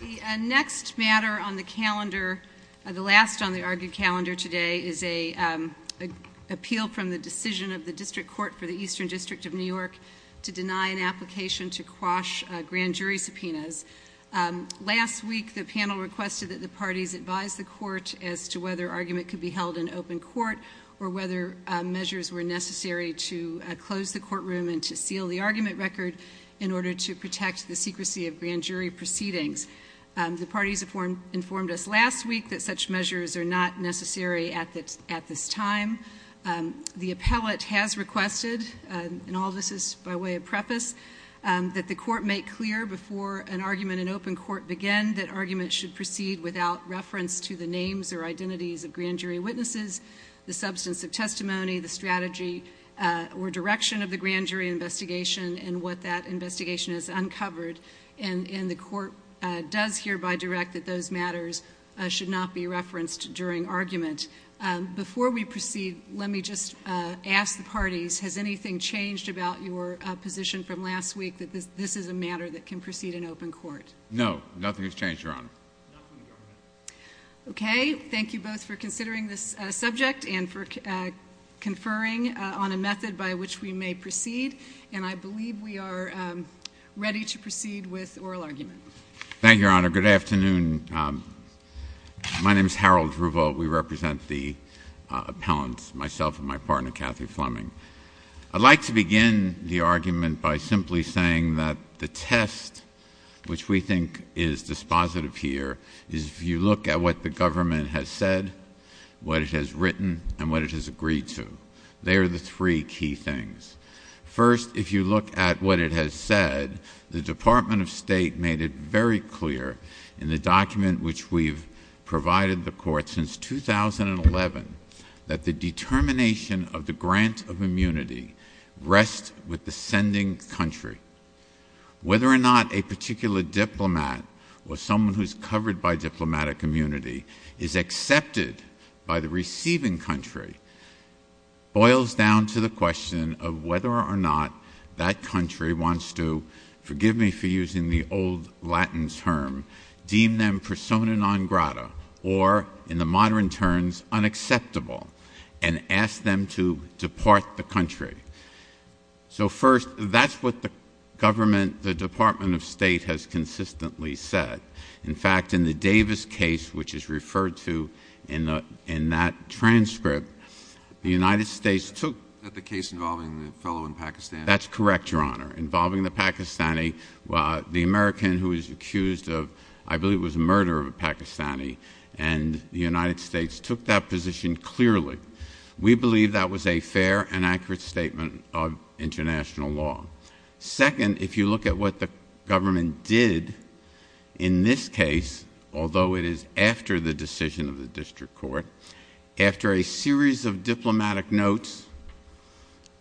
The next matter on the calendar, the last on the argued calendar today, is an appeal from the decision of the District Court for the Eastern District of New York to deny an application to quash grand jury subpoenas. Last week the panel requested that the parties advise the court as to whether argument could be held in open court or whether measures were necessary to close the courtroom and to seal the proceedings. The parties informed us last week that such measures are not necessary at this time. The appellate has requested, and all this is by way of preface, that the court make clear before an argument in open court began that argument should proceed without reference to the names or identities of grand jury witnesses, the substance of testimony, the strategy or direction of the grand jury investigation and what that investigation is uncovered, and the court does hereby direct that those matters should not be referenced during argument. Before we proceed, let me just ask the parties, has anything changed about your position from last week that this is a matter that can proceed in open court? No, nothing has changed, Your Honor. Okay, thank you both for considering this subject and for conferring on a method by which we may proceed, and I believe we are ready to proceed with oral argument. Thank you, Your Honor. Good afternoon. My name is Harold Druval. We represent the appellants, myself and my partner, Kathy Fleming. I'd like to begin the argument by simply saying that the test which we think is dispositive here is if you look at what the government has said, what it has written, and what it has agreed to. They are the three key things. First, if you look at what it has said, the Department of State made it very clear in the document which we've provided the court since 2011 that the determination of the grant of immunity rests with the sending country. Whether or not a particular diplomat or someone who is covered by diplomatic immunity is accepted by the receiving country boils down to the question of whether or not that country wants to, forgive me for using the old Latin term, deem them persona non grata or, in the modern terms, unacceptable, and ask them to depart the country. So first, that's what the government, the Department of State has consistently said. In fact, in the Davis case, which is referred to in that transcript, the United States took... Is that the case involving the fellow in Pakistan? That's correct, Your Honor. Involving the Pakistani, the American who is accused of, I believe it was murder of a Pakistani, and the United States took that position clearly. We believe that was a fair and accurate statement of international law. Second, if you look at what the government did in this case, although it is after the decision of the district court, after a series of diplomatic notes,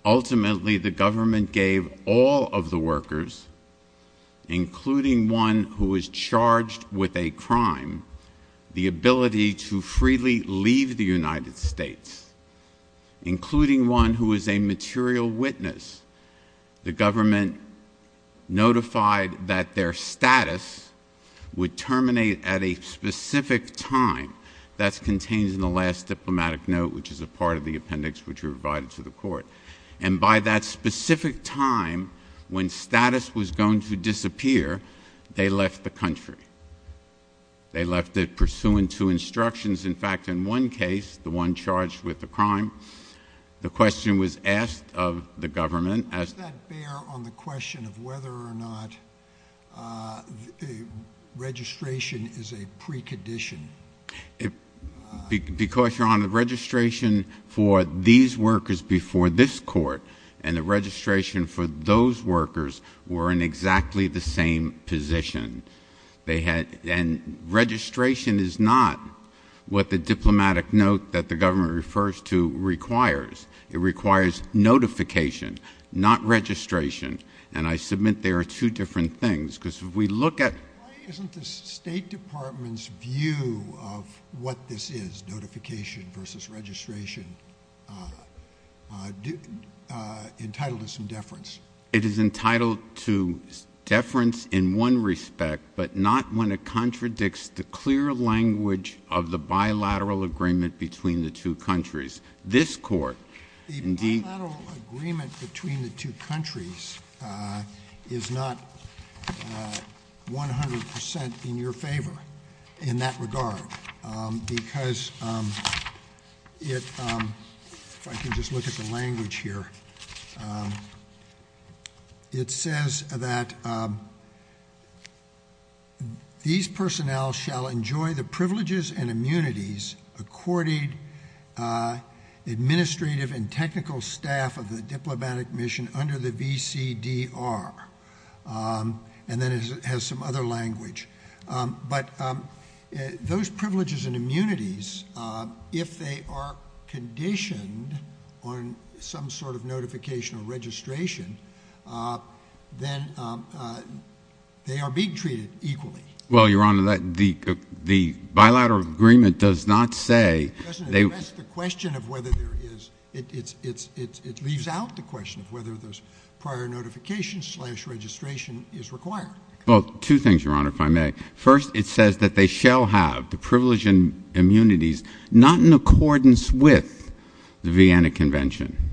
ultimately the government gave all of the workers, including one who was charged with a crime, the ability to freely leave the United States, including one who was a material witness, the government notified that their status would terminate at a specific time. That's contained in the last diplomatic note, which is a part of the appendix which we provided to the court. And by that specific time, when status was going to disappear, they left the country. They left it pursuant to instructions. In fact, in one case, the one charged with the crime, the question was asked of the government... Does that bear on the question of whether or not registration is a precondition? Because Your Honor, registration for these workers before this court and the registration for those workers were in exactly the same position. And registration is not what the diplomatic note that the government refers to requires. It requires notification, not registration. And I submit there are two different things, because if we look at... Why isn't the State Department's view of what this is, notification versus registration, entitled to some deference? It is entitled to deference in one respect, but not when it contradicts the clear language of the bilateral agreement between the two countries. This court... The bilateral agreement between the two countries is not 100 percent in your favor in that regard, because it... If I can just look at the language here, it says that these personnel shall enjoy the privileges and immunities accorded administrative and technical staff of the diplomatic mission under the VCDR. And then it has some other language. But those privileges and immunities, if they are conditioned on some sort of notification or registration, then they are being treated equally. Well, Your Honor, the bilateral agreement does not say... It doesn't address the question of whether there is... It leaves out the question of whether those prior notifications slash registration is required. Well, two things, Your Honor, if I may. First, it says that they shall have the privilege and immunities not in accordance with the Vienna Convention,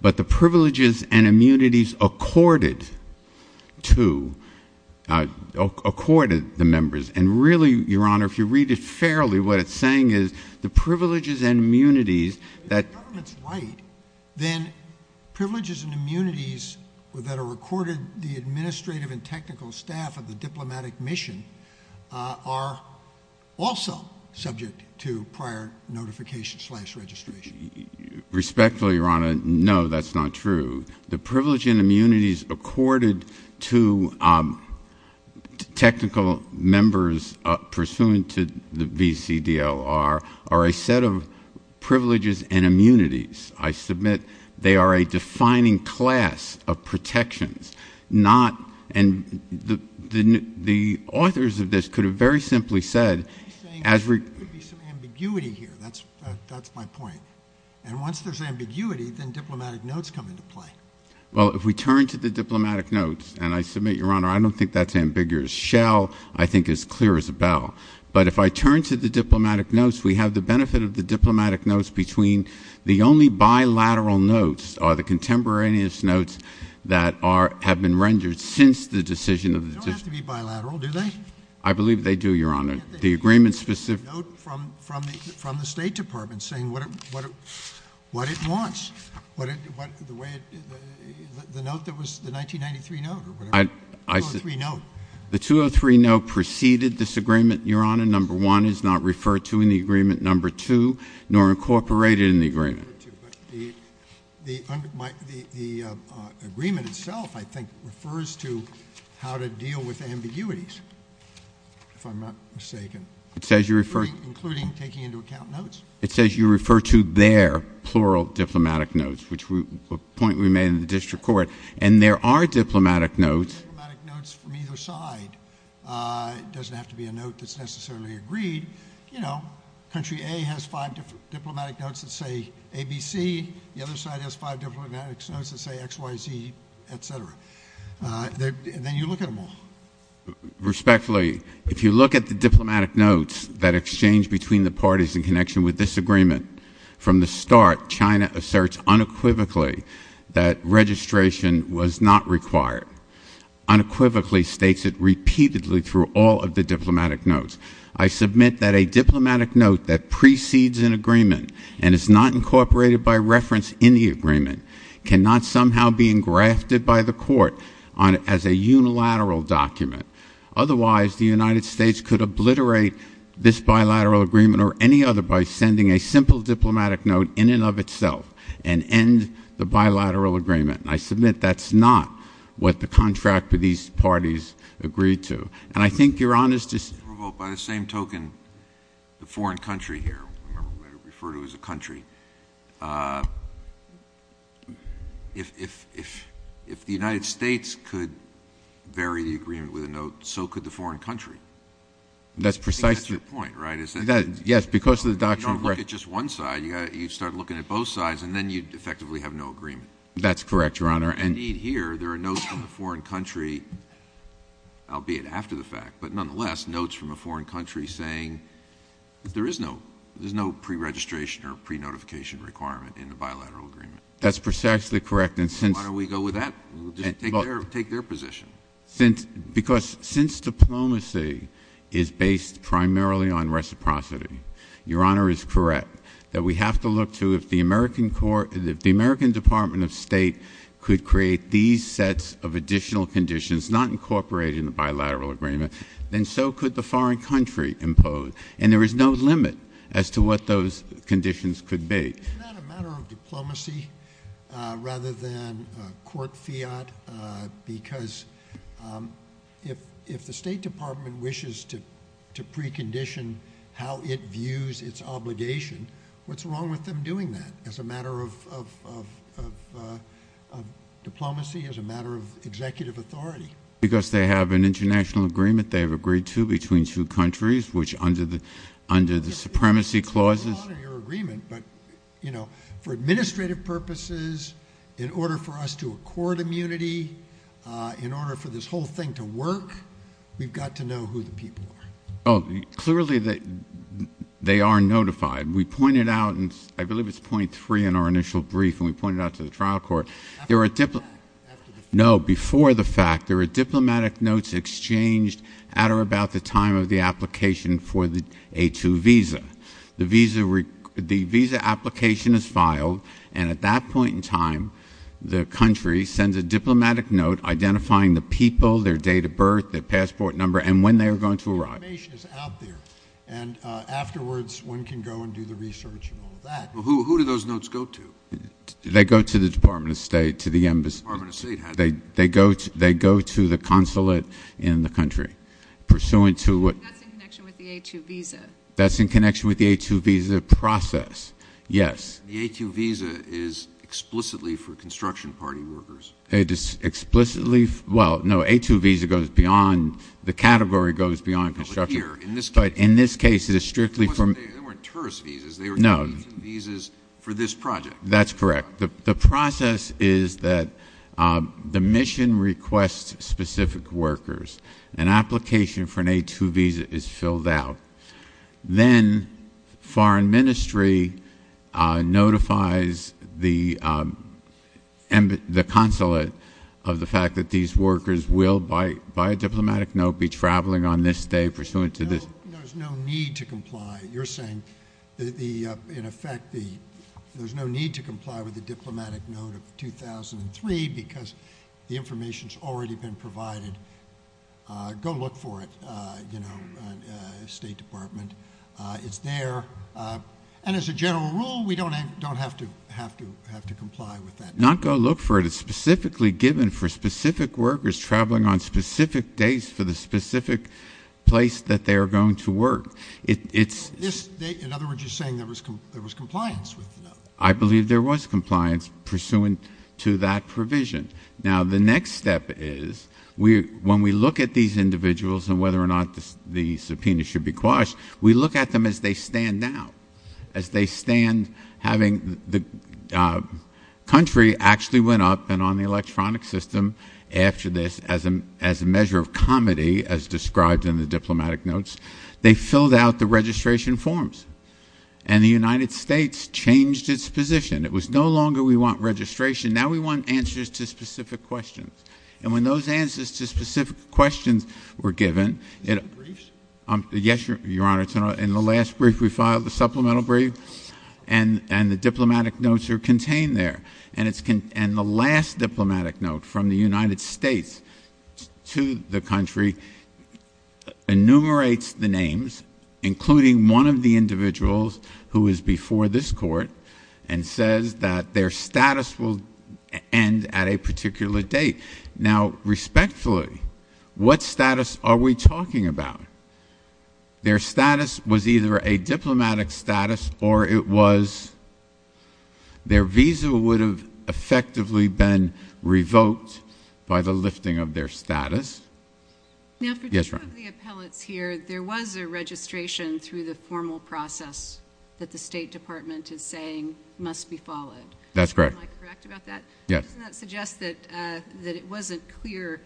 but the privileges and immunities accorded to the members. And really, Your Honor, if you read it fairly, what it's saying is the privileges and immunities that... If the government's right, then privileges and immunities that are accorded the administrative and technical staff of the diplomatic mission are also subject to prior notification slash registration. Respectfully, Your Honor, no, that's not true. The privilege and immunities accorded to technical members pursuant to the VCDLR are a set of privileges and immunities. I submit they are a defining class of protections, not... And the authors of this could have very simply said as... He's saying there could be some ambiguity here. That's my point. And once there's ambiguity, then diplomatic notes come into play. Well, if we turn to the diplomatic notes, and I submit, Your Honor, I don't think that's I think as clear as a bell. But if I turn to the diplomatic notes, we have the benefit of the diplomatic notes between the only bilateral notes are the contemporaneous notes that have been rendered since the decision of the... They don't have to be bilateral, do they? I believe they do, Your Honor. The agreement specific... Can't they get a note from the State Department saying what it wants? The note that was... The 1993 note or whatever, 203 note. The 203 note preceded this agreement, Your Honor. Number one is not referred to in the agreement. Number two, nor incorporated in the agreement. The agreement itself, I think, refers to how to deal with ambiguities, if I'm not mistaken. It says you refer... Including taking into account notes. It says you refer to their plural diplomatic notes, which is a point we made in the district court. And there are diplomatic notes... Diplomatic notes from either side. It doesn't have to be a note that's necessarily agreed. Country A has five different diplomatic notes that say ABC. The other side has five diplomatic notes that say XYZ, et cetera. Then you look at them all. Respectfully, if you look at the diplomatic notes that exchange between the parties in connection with this agreement, from the start, China asserts unequivocally that registration was not required. Unequivocally states it repeatedly through all of the diplomatic notes. I submit that a diplomatic note that precedes an agreement and is not incorporated by reference in the agreement cannot somehow be engrafted by the court as a unilateral document. Otherwise, the United States could obliterate this bilateral agreement or any other by sending a simple diplomatic note in and of itself and end the bilateral agreement. I submit that's not what the contract with these parties agreed to. And I think you're honest to... Well, by the same token, the foreign country here, I'm going to refer to as a country, if the United States could vary the agreement with a note, so could the foreign country. That's precisely... I think that's your point, right? Yes, because of the doctrine of... You don't look at just one side. You start looking at both sides, and then you'd effectively have no agreement. That's correct, Your Honor. Indeed, here, there are notes from the foreign country, albeit after the fact, but nonetheless, notes from a foreign country saying that there is no pre-registration or pre-notification requirement in the bilateral agreement. That's precisely correct. Why don't we go with that? We'll just take their position. Because since diplomacy is based primarily on reciprocity, Your Honor is correct that we have to look to if the American Department of State could create these sets of additional conditions not incorporated in the bilateral agreement, then so could the foreign country impose. And there is no limit as to what those conditions could be. Isn't that a matter of diplomacy rather than court fiat? Because if the State Department wishes to precondition how it views its obligation, what's wrong with them doing that as a matter of diplomacy, as a matter of executive authority? Because they have an international agreement they have agreed to between two countries, which under the supremacy clauses... Yes, Your Honor, Your Agreement, but for administrative purposes, in order for us to accord immunity, in order for this whole thing to work, we've got to know who the people are. Clearly they are notified. We pointed out, and I believe it's point three in our initial brief, and we pointed out to the trial court, there were diplomatic notes exchanged at or about the time of the application for the A2 visa. The visa application is filed, and at that point in time, the country sends a diplomatic note identifying the people, their date of birth, their passport number, and when they are going to arrive. The information is out there, and afterwards, one can go and do the research and all of that. Who do those notes go to? They go to the Department of State, to the embassy. The Department of State has them. They go to the consulate in the country, pursuant to what... That's in connection with the A2 visa. That's in connection with the A2 visa process, yes. The A2 visa is explicitly for construction party workers. It is explicitly... Well, no. A2 visa goes beyond... The category goes beyond construction. But here, in this case... But in this case, it is strictly for... They weren't tourist visas. They were A2 visas for this project. That's correct. The process is that the mission requests specific workers. An application for an A2 visa is filled out. Then, foreign ministry notifies the consulate of the fact that these workers will, by a diplomatic note, be traveling on this day, pursuant to this... No. There's no need to comply. You're saying, in effect, there's no need to comply with the diplomatic note of 2003, because the information's already been provided. Go look for it. State Department. It's there. As a general rule, we don't have to comply with that. Not go look for it. It's specifically given for specific workers traveling on specific days for the specific place that they are going to work. In other words, you're saying there was compliance with the note. I believe there was compliance, pursuant to that provision. Now, the next step is, when we look at these individuals and whether or not the subpoena should be quashed, we look at them as they stand now, as they stand having the country actually went up and on the electronic system after this, as a measure of comedy, as described in the diplomatic notes. They filled out the registration forms. The United States changed its position. It was no longer, we want registration. Now we want answers to specific questions. When those answers to specific questions were given, in the last brief we filed, the supplemental brief, and the diplomatic notes are contained there. The last diplomatic note from the United States to the country enumerates the names, including one of the individuals who is before this court, and says that their status will end at a particular date. Now respectfully, what status are we talking about? Their status was either a diplomatic status or it was, their visa would have effectively been revoked by the lifting of their status. Yes, ma'am. For some of the appellants here, there was a registration through the formal process that the State Department is saying must be followed. That's correct. Am I correct about that? Yes. Doesn't that suggest that it wasn't clear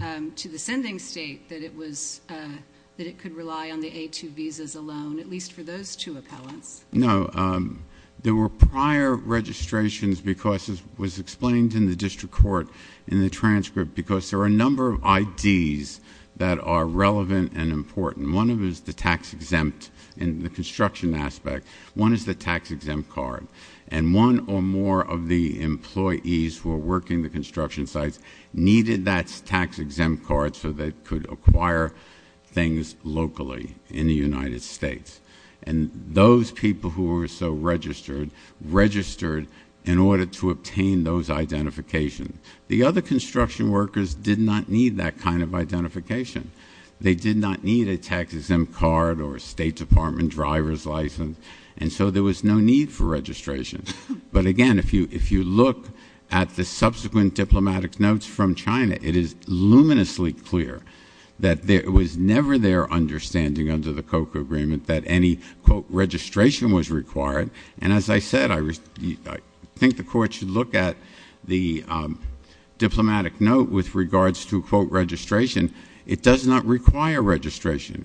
to the sending state that it was, that it could rely on the A2 visas alone, at least for those two appellants? No. There were prior registrations because, as was explained in the district court in the transcript, because there are a number of IDs that are relevant and important. One of them is the tax-exempt in the construction aspect. One is the tax-exempt card. And one or more of the employees who are working the construction sites needed that tax-exempt card so they could acquire things locally in the United States. And those people who were so registered, registered in order to obtain those identifications. The other construction workers did not need that kind of identification. They did not need a tax-exempt card or a State Department driver's license. And so there was no need for registration. But again, if you look at the subsequent diplomatic notes from China, it is luminously clear that it was never their understanding under the COCA agreement that any, quote, registration was required. And as I said, I think the court should look at the diplomatic note with regards to, quote, registration. It does not require registration.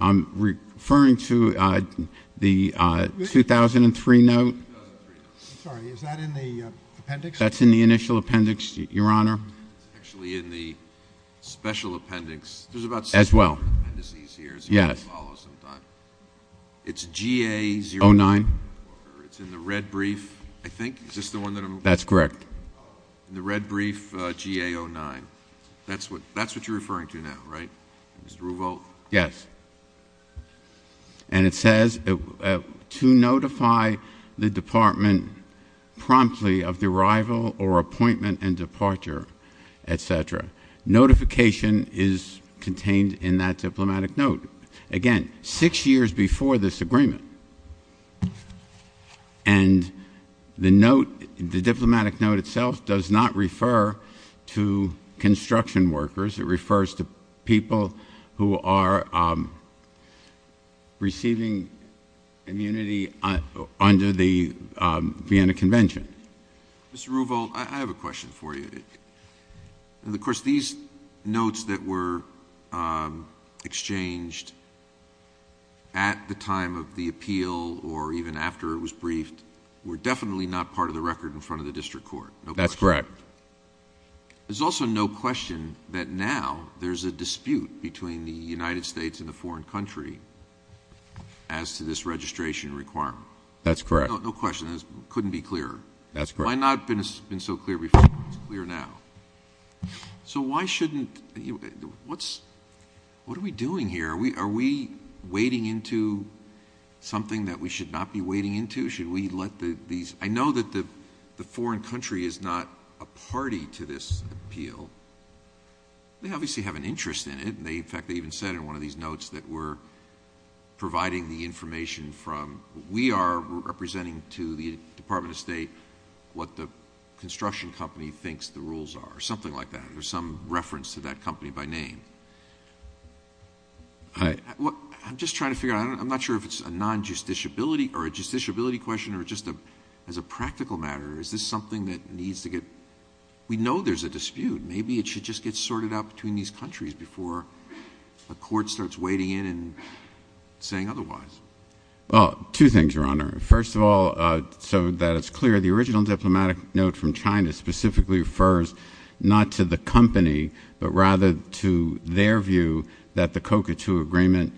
I'm referring to the 2003 note. I'm sorry. Is that in the appendix? That's in the initial appendix, Your Honor. It's actually in the special appendix. As well. Yes. It's GA-09. It's in the red brief, I think. That's correct. In the red brief, GA-09. That's what you're referring to now, right? Mr. Ruvo? Yes. And it says, to notify the Department promptly of the arrival or appointment and diplomatic note. Again, six years before this agreement. And the note, the diplomatic note itself does not refer to construction workers. It refers to people who are receiving immunity under the Vienna Convention. Mr. Ruvo, I have a question for you. Of course, these notes that were exchanged at the time of the appeal or even after it was briefed were definitely not part of the record in front of the district court. That's correct. There's also no question that now there's a dispute between the United States and the foreign country as to this registration requirement. That's correct. No question. It couldn't be clearer. That's correct. It might not have been so clear before, but it's clear now. So why shouldn't, what are we doing here? Are we wading into something that we should not be wading into? Should we let these, I know that the foreign country is not a party to this appeal. They obviously have an interest in it. In fact, they even said in one of these notes that we're providing the information from, we are representing to the Department of State what the construction company thinks the rules are, something like that. There's some reference to that company by name. I'm just trying to figure out, I'm not sure if it's a non-justiciability or a justiciability question or just as a practical matter, is this something that needs to get, we know there's a dispute. Maybe it should just get sorted out between these countries before a court starts wading in and saying otherwise. Well, two things, Your Honor. First of all, so that it's clear, the original diplomatic note from China specifically refers not to the company, but rather to their view that the COCA II agreement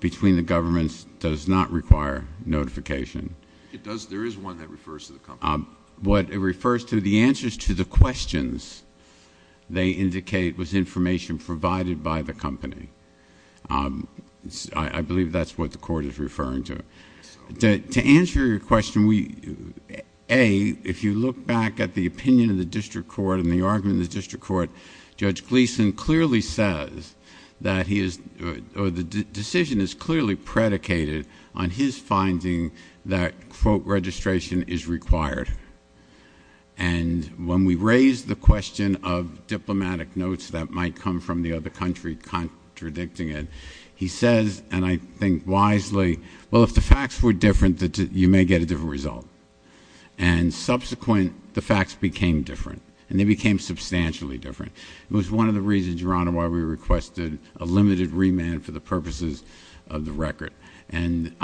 between the governments does not require notification. It does. There is one that refers to the company. What it refers to, the answers to the questions they indicate was information provided by the company. I believe that's what the court is referring to. To answer your question, A, if you look back at the opinion of the district court and the argument of the district court, Judge Gleeson clearly says that he is, or the decision is clearly predicated on his finding that, quote, registration is required. And when we raise the question of diplomatic notes that might come from the other country contradicting it, he says, and I think wisely, well, if the facts were different, you may get a different result. And subsequent, the facts became different. And they became substantially different. It was one of the reasons, Your Honor, why we moved the record. And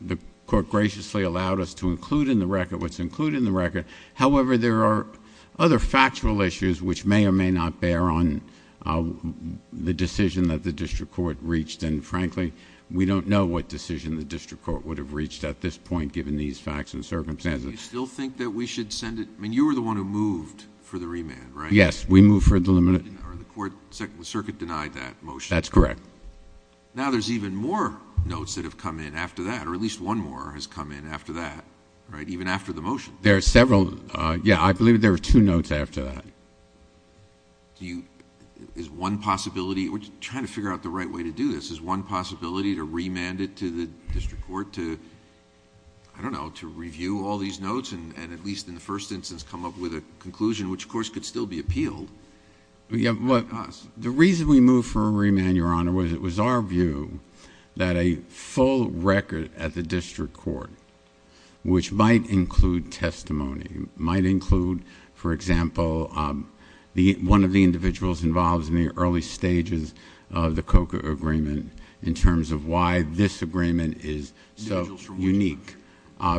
the court graciously allowed us to include in the record what's included in the record. However, there are other factual issues which may or may not bear on the decision that the district court reached. And frankly, we don't know what decision the district court would have reached at this point, given these facts and circumstances. Do you still think that we should send it? I mean, you were the one who moved for the remand, right? Yes, we moved for the limit. Or the court, the circuit denied that motion. That's correct. Now there's even more notes that have come in after that, or at least one more has come in after that, right, even after the motion. There are several, yeah, I believe there were two notes after that. Do you, is one possibility, we're trying to figure out the right way to do this. Is one possibility to remand it to the district court to, I don't know, to review all these notes and at least in the first instance come up with a conclusion, which of course could still be appealed? The reason we moved for a remand, Your Honor, was it was our view that a full record at the district court, which might include testimony, might include, for example, one of the individuals involved in the early stages of the COCA agreement in terms of why this agreement is so unique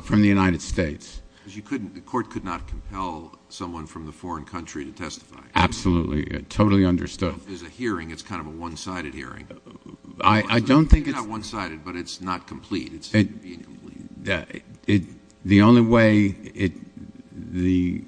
from the United States. Because you couldn't, the court could not compel someone from the foreign country to absolutely, totally understood. If there's a hearing, it's kind of a one-sided hearing. I don't think it's... It's not one-sided, but it's not complete. The only way the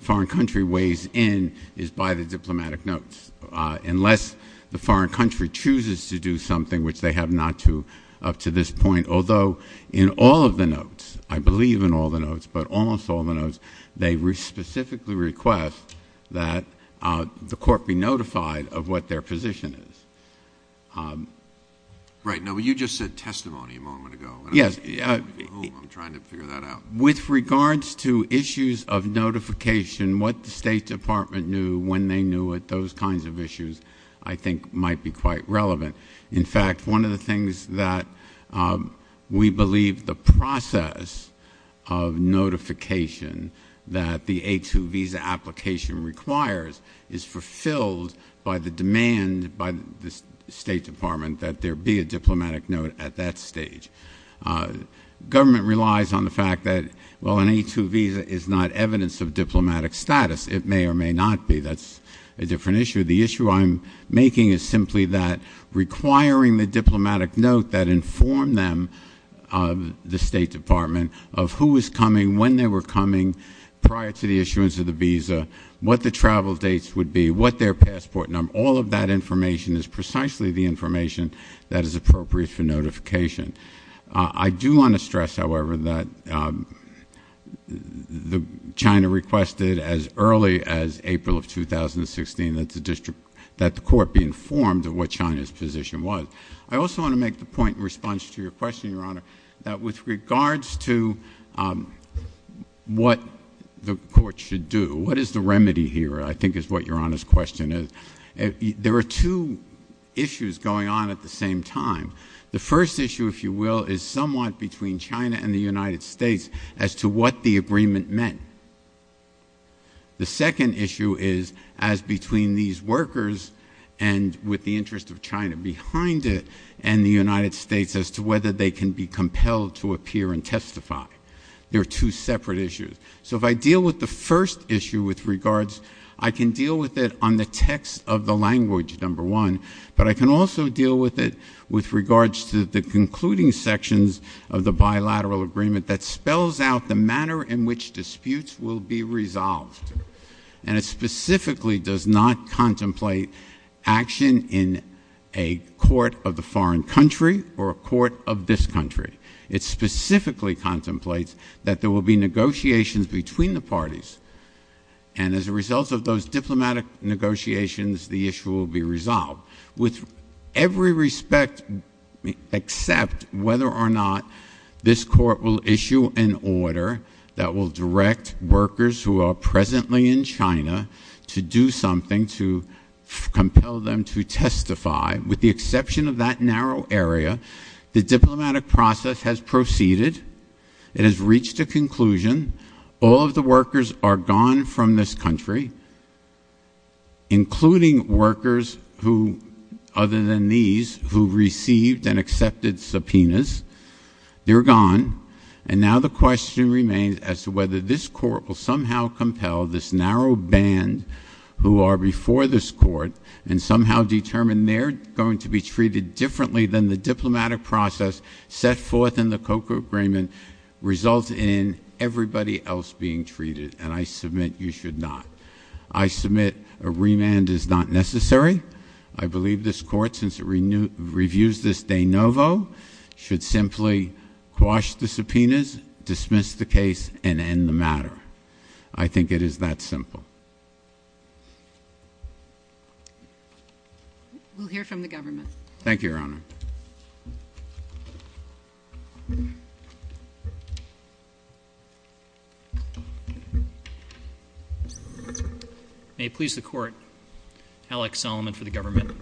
foreign country weighs in is by the diplomatic notes. Unless the foreign country chooses to do something, which they have not to up to this point, although in all of the notes, I believe in all the notes, but almost all the notes, they specifically request that the court be notified of what their position is. Right. Now, you just said testimony a moment ago. Yes. I'm trying to figure that out. With regards to issues of notification, what the State Department knew when they knew it, those kinds of issues I think might be quite relevant. In fact, one of the things that we believe the process of notification that the A2 visa application requires is fulfilled by the demand by the State Department that there be a diplomatic note at that stage. Government relies on the fact that, well, an A2 visa is not evidence of diplomatic status. It may or may not be. That's a different issue. The issue I'm making is simply that requiring the diplomatic note that informed them, the State Department, of who was coming, when they were coming, prior to the issuance of the visa, what the travel dates would be, what their passport number, all of that information is precisely the information that is appropriate for notification. I do want to stress, however, that China requested as early as April of 2016 that the court be informed of what China's position was. I also want to make the point in response to your question, Your Honor, that with regards to what the court should do, what is the remedy here, I think is what Your Honor's question is, there are two issues going on at the same time. The first issue, if you will, is somewhat between China and the United States as to what the agreement meant. The second issue is as between these workers and, with the interest of China behind it, and the United States as to whether they can be compelled to appear and testify. They're two separate issues. So if I deal with the first issue with regards, I can deal with it on the text of the language, number one, but I can also deal with it with regards to the concluding sections of the bilateral agreement that spells out the manner in which disputes will be resolved. And it specifically does not contemplate action in a court of the foreign country or a court of this country. It specifically contemplates that there will be negotiations between the parties. And as a result of those diplomatic negotiations, the issue will be resolved. With every respect except whether or not this court will issue an order that will direct workers who are presently in China to do something to compel them to testify, with the exception of that narrow area, the diplomatic process has proceeded. It has reached a conclusion. All of the workers are gone from this country, including workers who, other than these, who received and accepted subpoenas. They're gone. And now the question remains as to whether this court will somehow compel this narrow band who are before this court and somehow determine they're going to be treated differently than the And I submit you should not. I submit a remand is not necessary. I believe this court, since it reviews this de novo, should simply quash the subpoenas, dismiss the case, and end the matter. I think it is that simple. We'll hear from the government. Thank you, Your Honor. May it please the court. Alex Solomon for the government.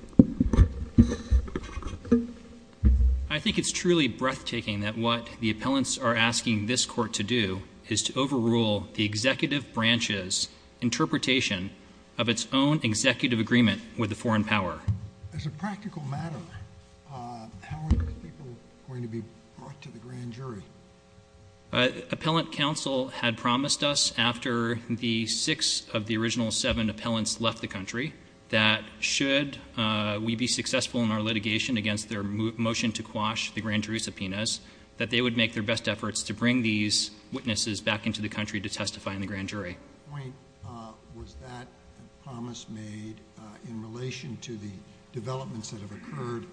I think it's truly breathtaking that what the appellants are asking this court to do is to overrule the executive branch's interpretation of its own executive agreement with the foreign power. As a practical matter, how are the people going to be brought to the grand jury? Appellant counsel had promised us after the six of the original seven appellants left the country that should we be successful in our litigation against their motion to quash the grand jury subpoenas, that they would make their best efforts to bring these witnesses back into the country to testify in the grand jury. At what point was that promise made in relation to the developments that have occurred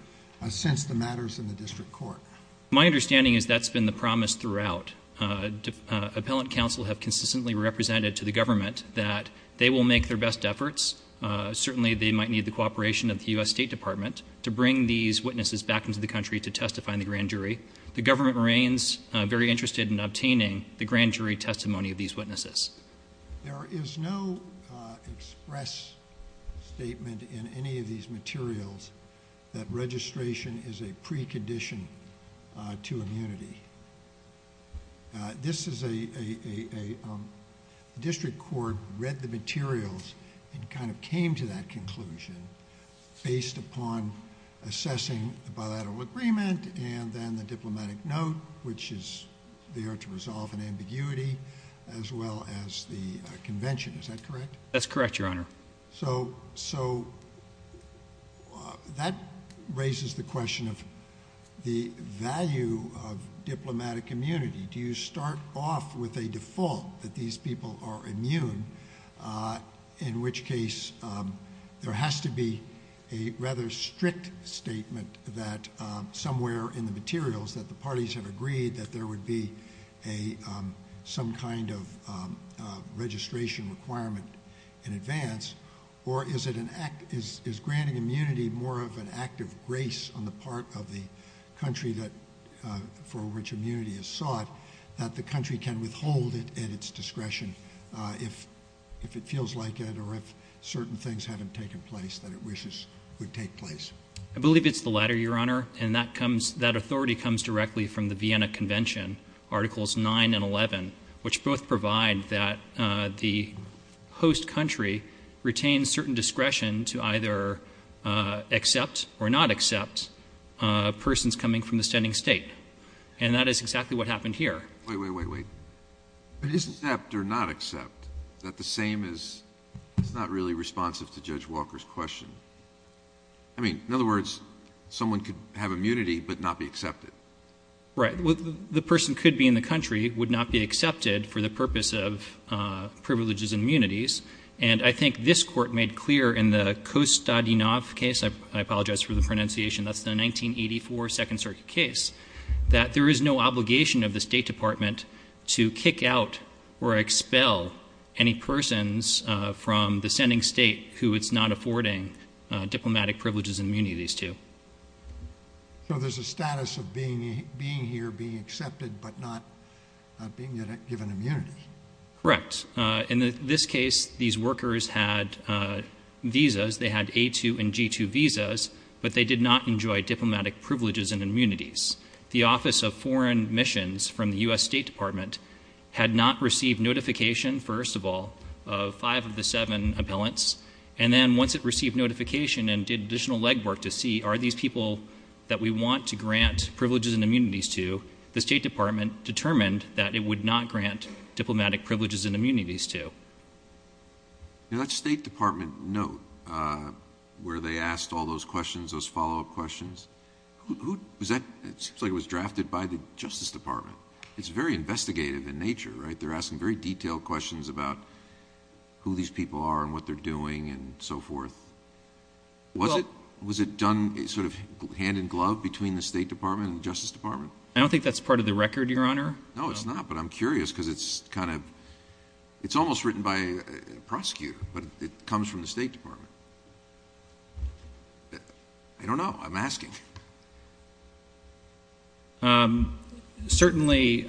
since the matters in the district court? My understanding is that's been the promise throughout. Appellant counsel have consistently represented to the government that they will make their best efforts. Certainly, they might need the cooperation of the U.S. State Department to bring these witnesses back into the country to testify in the grand jury. The government remains very interested in obtaining the grand jury testimony of these witnesses. There is no express statement in any of these materials that registration is a precondition to immunity. This is a district court read the materials and kind of came to that conclusion based upon assessing the bilateral agreement and then the diplomatic note, which is there to resolve an ambiguity as well as the convention. Is that correct? That's correct, Your Honor. So that raises the question of the value of diplomatic immunity. Do you start off with a default that these people are immune, in which case there has to be a rather strict statement that somewhere in the materials that the parties have agreed that there would be some kind of registration requirement in advance, or is granting immunity more of an act of grace on the part of the country for which immunity is sought that the country can withhold it at its discretion if it feels like it or if certain things haven't taken place that it wishes would take place? I believe it's the latter, Your Honor, and that authority comes directly from the Vienna Convention, Articles 9 and 11, which both provide that the host country retains certain discretion to either accept or not accept persons coming from the standing State. And that is exactly what happened here. Wait, wait, wait, wait. It isn't accept or not accept. Is that the same as it's not really responsive to Judge Walker's question? I mean, in other words, someone could have immunity but not be accepted. Right. The person could be in the country, would not be accepted for the purpose of privileges and immunities, and I think this Court made clear in the Kostadinoff case, I apologize for the pronunciation, that's the 1984 Second Circuit case, that there is no obligation of the State Department to kick out or expel any persons from the standing State who it's not affording diplomatic privileges and immunities to. So there's a status of being here, being accepted, but not being given immunities. Correct. In this case, these workers had visas. They had A2 and G2 visas, but they did not enjoy diplomatic privileges and immunities. The Office of Foreign Missions from the U.S. State Department had not received notification, first of all, of five of the seven appellants, and then once it received notification and did additional legwork to see are these people that we want to grant privileges and immunities to, the State Department determined that it would not grant diplomatic privileges and immunities to. That State Department note where they asked all those questions, those follow-up questions, it seems like it was drafted by the Justice Department. It's very investigative in nature, right? They're asking very detailed questions about who these people are and what they're doing and so forth. Was it done sort of hand-in-glove between the State Department and the Justice Department? I don't think that's part of the record, Your Honor. No, it's not, but I'm curious because it's kind of, it's almost written by a prosecutor, but it comes from the State Department. I don't know. I'm asking. Certainly,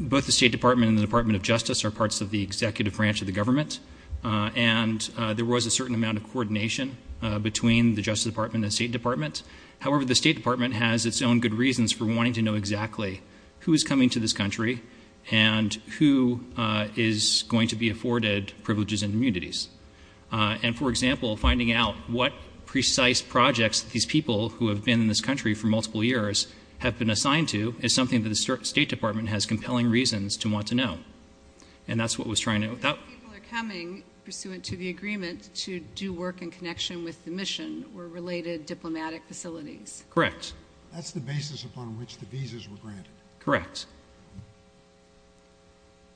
both the State Department and the Department of Justice are parts of the executive branch of the government, and there was a certain amount of coordination between the Justice Department and the State Department. However, the State Department has its own good reasons for wanting to know exactly who is coming to this country and who is going to be afforded privileges and immunities. And, for example, finding out what precise projects these people who have been in this country for multiple years have been assigned to is something that the State Department has compelling reasons to want to know. And that's what was trying to know. People are coming pursuant to the agreement to do work in connection with the mission or related diplomatic facilities. Correct. That's the basis upon which the visas were granted. Correct.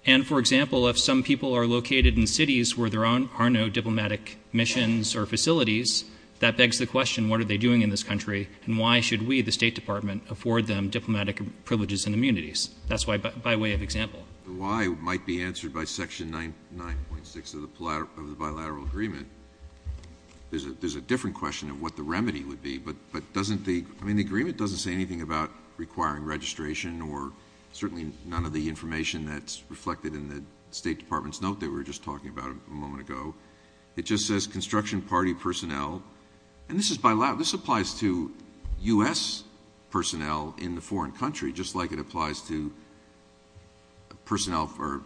And, for example, if some people are located in cities where there are no diplomatic missions or facilities, that begs the question, what are they doing in this country, and why should we, the State Department, afford them diplomatic privileges and immunities? That's by way of example. The why might be answered by Section 9.6 of the bilateral agreement. There's a different question of what the remedy would be, but doesn't the, I mean, the agreement doesn't say anything about requiring registration or certainly none of the information that's reflected in the State Department's note that we were just talking about a moment ago. It just says construction party personnel. And this applies to U.S. personnel in the foreign country, just like it applies to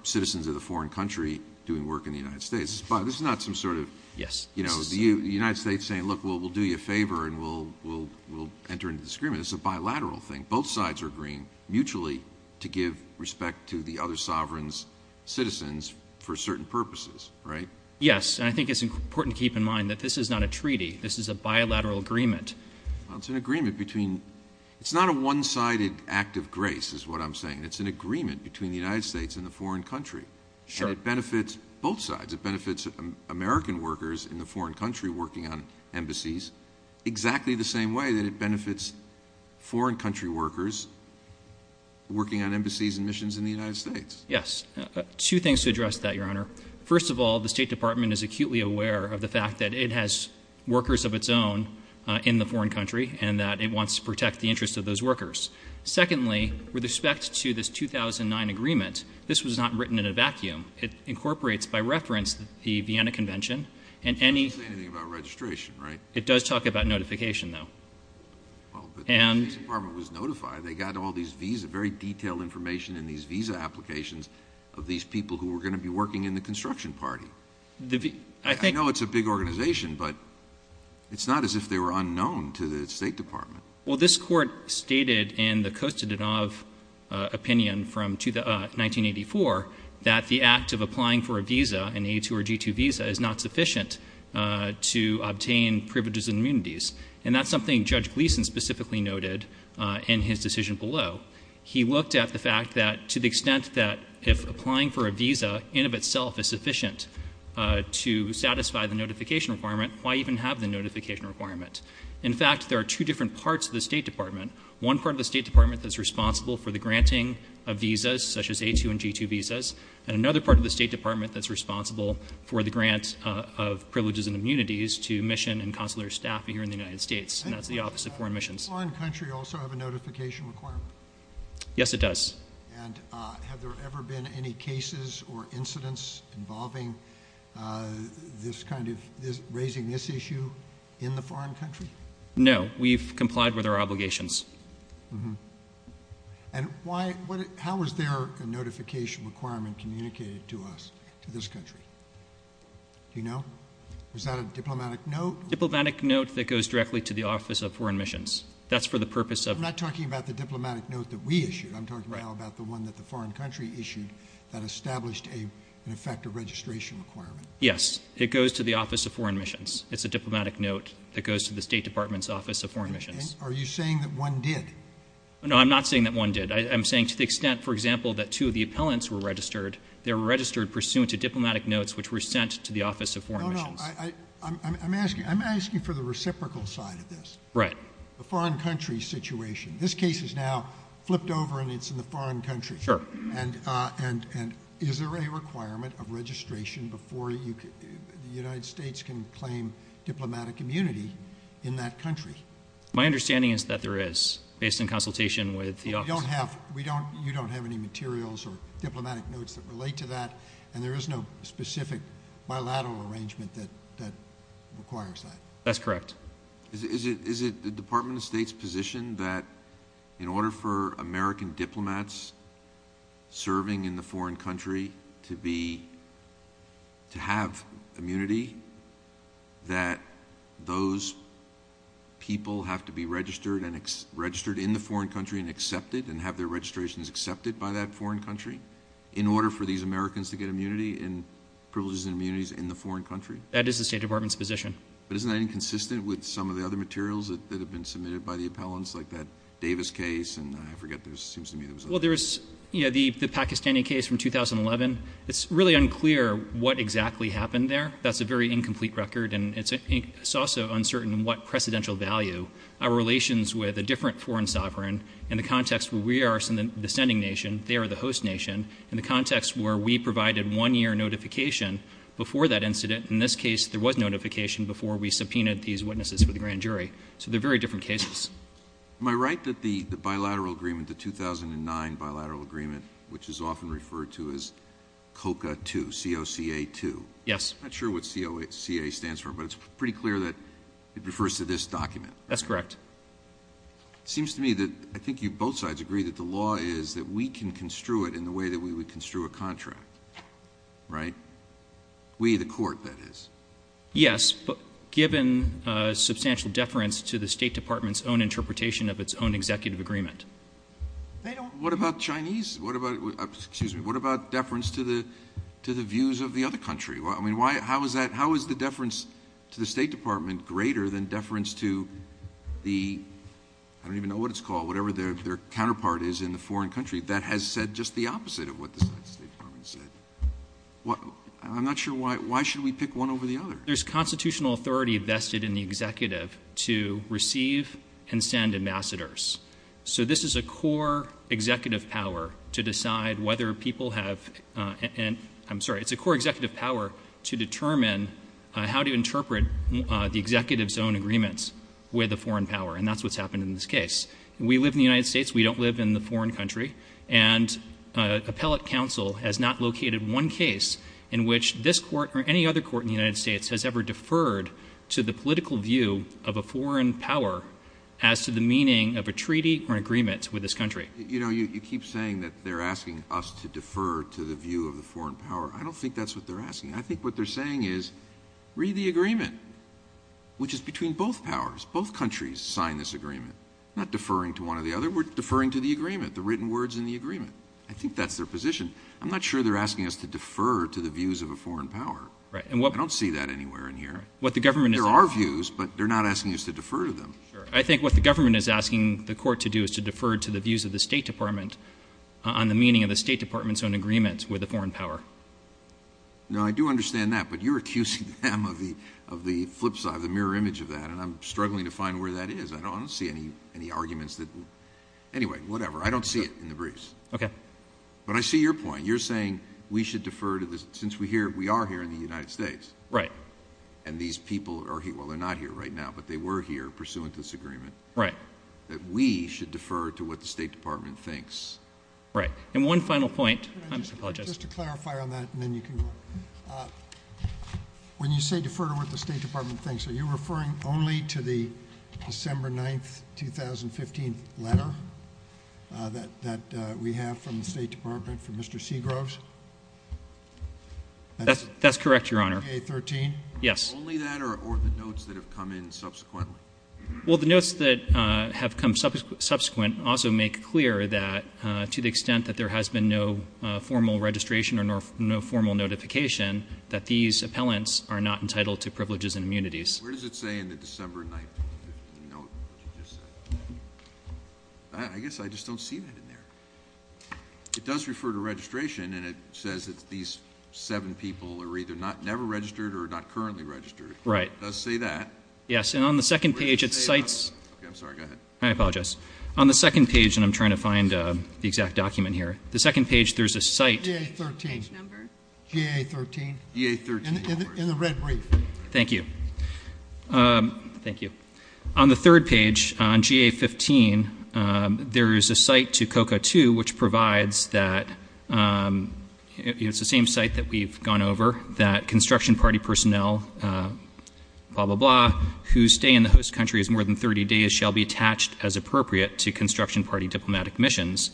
citizens of the foreign country doing work in the United States. This is not some sort of, you know, the United States saying, look, we'll do you a favor and we'll enter into this agreement. It's a bilateral thing. Both sides are agreeing mutually to give respect to the other sovereign's citizens for certain purposes, right? Yes, and I think it's important to keep in mind that this is not a treaty. This is a bilateral agreement. Well, it's an agreement between, it's not a one-sided act of grace is what I'm saying. It's an agreement between the United States and the foreign country. Sure. And it benefits both sides. It benefits American workers in the foreign country working on embassies exactly the same way that it benefits foreign country workers working on embassies and missions in the United States. Yes. Two things to address that, Your Honor. First of all, the State Department is acutely aware of the fact that it has workers of its own in the foreign country and that it wants to protect the interests of those workers. Secondly, with respect to this 2009 agreement, this was not written in a vacuum. It incorporates by reference the Vienna Convention. It doesn't say anything about registration, right? It does talk about notification, though. Well, but the State Department was notified. They got all these visa, very detailed information in these visa applications of these people who were going to be working in the construction party. I know it's a big organization, but it's not as if they were unknown to the State Department. Well, this Court stated in the Kostantinov opinion from 1984 that the act of applying for a visa, an A2 or G2 visa, is not sufficient to obtain privileges and immunities. And that's something Judge Gleeson specifically noted in his decision below. He looked at the fact that to the extent that if applying for a visa in of itself is sufficient to satisfy the notification requirement, why even have the notification requirement? In fact, there are two different parts of the State Department. One part of the State Department that's responsible for the granting of visas, such as A2 and G2 visas, and another part of the State Department that's responsible for the grant of privileges and immunities to mission and consular staff here in the United States, and that's the Office of Foreign Missions. Does a foreign country also have a notification requirement? Yes, it does. And have there ever been any cases or incidents involving this kind of raising this issue in the foreign country? No, we've complied with our obligations. And how is their notification requirement communicated to us, to this country? Do you know? Is that a diplomatic note? Diplomatic note that goes directly to the Office of Foreign Missions. That's for the purpose of – I'm talking now about the one that the foreign country issued that established, in effect, a registration requirement. Yes, it goes to the Office of Foreign Missions. It's a diplomatic note that goes to the State Department's Office of Foreign Missions. Are you saying that one did? No, I'm not saying that one did. I'm saying to the extent, for example, that two of the appellants were registered, they were registered pursuant to diplomatic notes which were sent to the Office of Foreign Missions. No, no, I'm asking for the reciprocal side of this. Right. The foreign country situation. This case is now flipped over and it's in the foreign country. Sure. And is there a requirement of registration before the United States can claim diplomatic immunity in that country? My understanding is that there is, based on consultation with the Office. You don't have any materials or diplomatic notes that relate to that, and there is no specific bilateral arrangement that requires that. That's correct. Is it the Department of State's position that in order for American diplomats serving in the foreign country to have immunity, that those people have to be registered in the foreign country and accepted and have their registrations accepted by that foreign country in order for these Americans to get immunity and privileges and immunities in the foreign country? That is the State Department's position. But isn't that inconsistent with some of the other materials that have been submitted by the appellants, like that Davis case, and I forget. There seems to me there was another one. Well, there was the Pakistani case from 2011. It's really unclear what exactly happened there. That's a very incomplete record, and it's also uncertain what precedential value our relations with a different foreign sovereign in the context where we are the sending nation, they are the host nation, in the context where we provided one-year notification before that incident. In this case, there was notification before we subpoenaed these witnesses for the grand jury. So they're very different cases. Am I right that the bilateral agreement, the 2009 bilateral agreement, which is often referred to as COCA 2, C-O-C-A 2? Yes. I'm not sure what C-O-C-A stands for, but it's pretty clear that it refers to this document. That's correct. It seems to me that I think both sides agree that the law is that we can construe it in the way that we would construe a contract, right? We, the court, that is. Yes, but given substantial deference to the State Department's own interpretation of its own executive agreement. What about Chinese? What about deference to the views of the other country? I mean, how is the deference to the State Department greater than deference to the ‑‑ I don't even know what it's called, whatever their counterpart is in the foreign country. That has said just the opposite of what the State Department said. I'm not sure why. Why should we pick one over the other? There's constitutional authority vested in the executive to receive and send ambassadors. So this is a core executive power to decide whether people have ‑‑ I'm sorry, it's a core executive power to determine how to interpret the executive's own agreements with a foreign power, and that's what's happened in this case. We live in the United States. We don't live in the foreign country. And appellate counsel has not located one case in which this court or any other court in the United States has ever deferred to the political view of a foreign power as to the meaning of a treaty or an agreement with this country. You know, you keep saying that they're asking us to defer to the view of the foreign power. I don't think that's what they're asking. I think what they're saying is, read the agreement, which is between both powers. Both countries signed this agreement. Not deferring to one or the other. I think we're deferring to the agreement, the written words in the agreement. I think that's their position. I'm not sure they're asking us to defer to the views of a foreign power. I don't see that anywhere in here. There are views, but they're not asking us to defer to them. I think what the government is asking the court to do is to defer to the views of the State Department on the meaning of the State Department's own agreements with a foreign power. No, I do understand that, but you're accusing them of the flip side, the mirror image of that, and I'm struggling to find where that is. I don't see any arguments. Anyway, whatever. I don't see it in the briefs. But I see your point. You're saying we should defer to this. Since we are here in the United States, and these people are here. Well, they're not here right now, but they were here pursuant to this agreement. Right. That we should defer to what the State Department thinks. Right. And one final point. I apologize. Just to clarify on that, and then you can go on. When you say defer to what the State Department thinks, are you referring only to the December 9th, 2015 letter that we have from the State Department from Mr. Seagroves? That's correct, Your Honor. VA-13? Yes. Only that or the notes that have come in subsequently? Well, the notes that have come subsequent also make clear that to the extent that there has been no formal registration or no formal notification, that these appellants are not entitled to privileges and immunities. Where does it say in the December 9th, 2015 note what you just said? I guess I just don't see that in there. It does refer to registration, and it says that these seven people are either never registered or not currently registered. Right. It does say that. Yes. And on the second page, it cites – Okay, I'm sorry. Go ahead. I apologize. On the second page, and I'm trying to find the exact document here. The second page, there's a cite. VA-13. Page number? GA-13. VA-13. In the red brief. Thank you. Thank you. On the third page, on GA-15, there is a cite to COCA-2, which provides that – it's the same cite that we've gone over – that construction party personnel, blah, blah, blah, who stay in the host country as more than 30 days, shall be attached as appropriate to construction party diplomatic missions.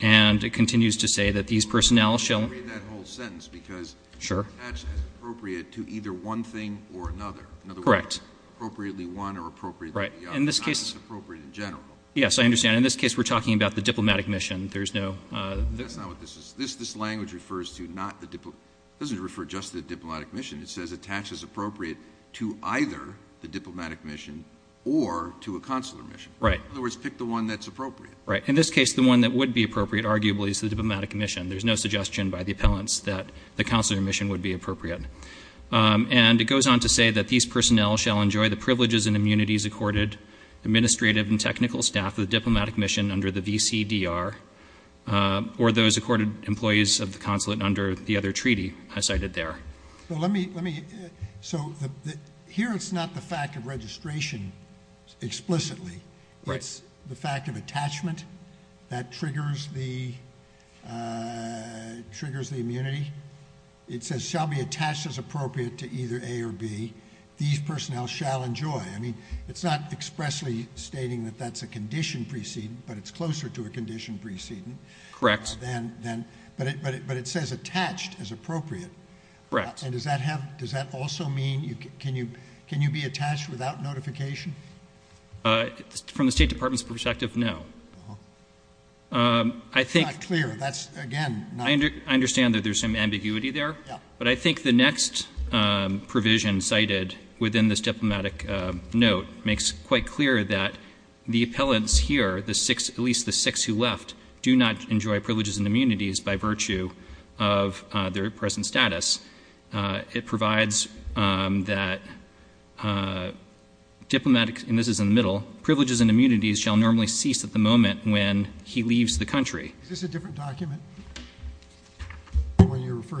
And it continues to say that these personnel shall – Let me read that whole sentence because – Sure. Attached as appropriate to either one thing or another. Correct. In other words, appropriately one or appropriately the other. Right. In this case – Not as appropriate in general. Yes, I understand. In this case, we're talking about the diplomatic mission. There's no – That's not what this is. This language refers to not the – it doesn't refer just to the diplomatic mission. It says attached as appropriate to either the diplomatic mission or to a consular mission. Right. In other words, pick the one that's appropriate. Right. In this case, the one that would be appropriate, arguably, is the diplomatic mission. There's no suggestion by the appellants that the consular mission would be appropriate. And it goes on to say that these personnel shall enjoy the privileges and immunities accorded administrative and technical staff of the diplomatic mission under the VCDR, or those accorded employees of the consulate under the other treaty I cited there. Let me – so here it's not the fact of registration explicitly. Right. It's the fact of attachment that triggers the immunity. It says shall be attached as appropriate to either A or B. These personnel shall enjoy. I mean, it's not expressly stating that that's a condition precedent, but it's closer to a condition precedent. Correct. But it says attached as appropriate. Correct. And does that also mean can you be attached without notification? From the State Department's perspective, no. It's not clear. That's, again, not clear. I understand that there's some ambiguity there. Yeah. But I think the next provision cited within this diplomatic note makes quite clear that the appellants here, at least the six who left, do not enjoy privileges and immunities by virtue of their present status. It provides that diplomatic – and this is in the middle. Privileges and immunities shall normally cease at the moment when he leaves the country. Is this a different document?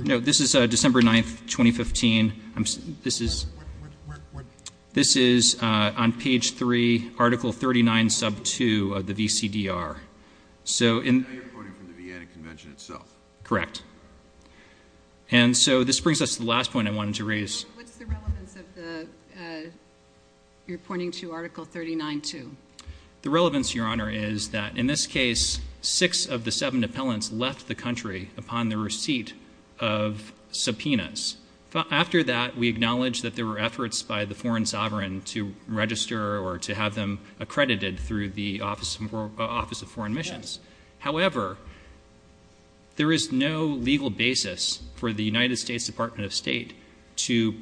No, this is December 9th, 2015. Where? This is on Page 3, Article 39, Sub 2 of the VCDR. Now you're pointing from the Vienna Convention itself. Correct. And so this brings us to the last point I wanted to raise. What's the relevance of the – you're pointing to Article 39, 2. The relevance, Your Honor, is that in this case, six of the seven appellants left the country upon the receipt of subpoenas. After that, we acknowledge that there were efforts by the foreign sovereign to register or to have them accredited through the Office of Foreign Missions. However, there is no legal basis for the United States Department of State to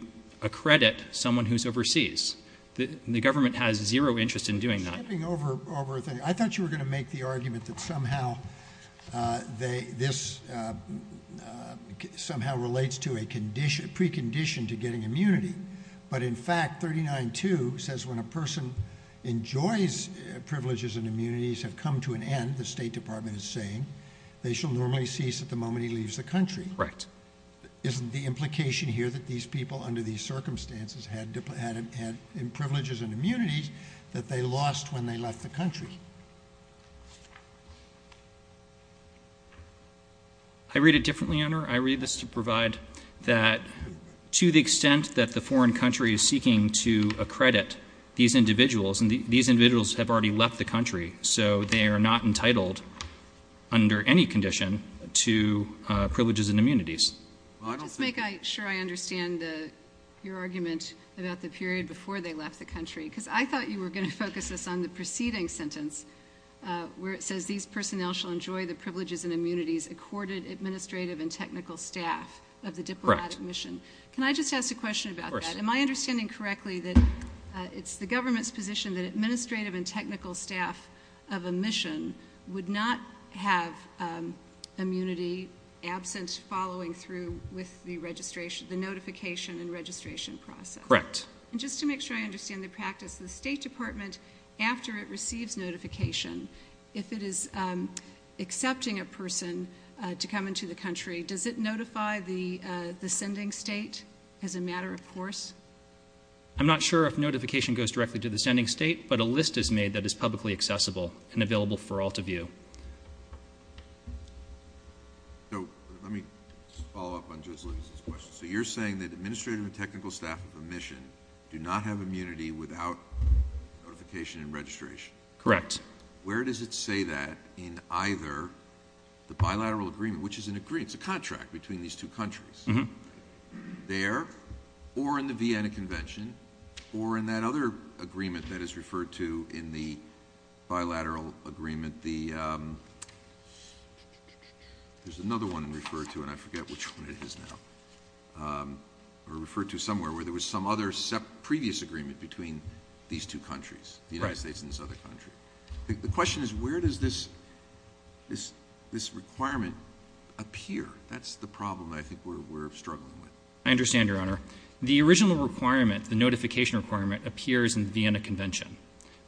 accredit someone who's overseas. The government has zero interest in doing that. I thought you were going to make the argument that somehow this somehow relates to a precondition to getting immunity. But in fact, 39, 2 says when a person enjoys privileges and immunities have come to an end, the State Department is saying, they shall normally cease at the moment he leaves the country. Correct. Isn't the implication here that these people under these circumstances had privileges and immunities that they lost when they left the country? I read it differently, Your Honor. I read this to provide that to the extent that the foreign country is seeking to accredit these individuals, and these individuals have already left the country, so they are not entitled under any condition to privileges and immunities. Let me just make sure I understand your argument about the period before they left the country, because I thought you were going to focus this on the preceding sentence where it says, these personnel shall enjoy the privileges and immunities accorded administrative and technical staff of the diplomatic mission. Correct. Of course. Am I understanding correctly that it's the government's position that administrative and technical staff of a mission would not have immunity absent following through with the notification and registration process? Correct. Just to make sure I understand the practice, the State Department, after it receives notification, if it is accepting a person to come into the country, does it notify the sending state as a matter of course? I'm not sure if notification goes directly to the sending state, but a list is made that is publicly accessible and available for all to view. So let me follow up on Judge Lewis's question. So you're saying that administrative and technical staff of a mission do not have immunity without notification and registration? Correct. Where does it say that in either the bilateral agreement, which is an agreement, it's a contract between these two countries, there or in the Vienna Convention or in that other agreement that is referred to in the bilateral agreement, there's another one referred to and I forget which one it is now, or referred to somewhere where there was some other previous agreement between these two countries, the United States and this other country. The question is where does this requirement appear? That's the problem I think we're struggling with. I understand, Your Honor. The original requirement, the notification requirement, appears in the Vienna Convention,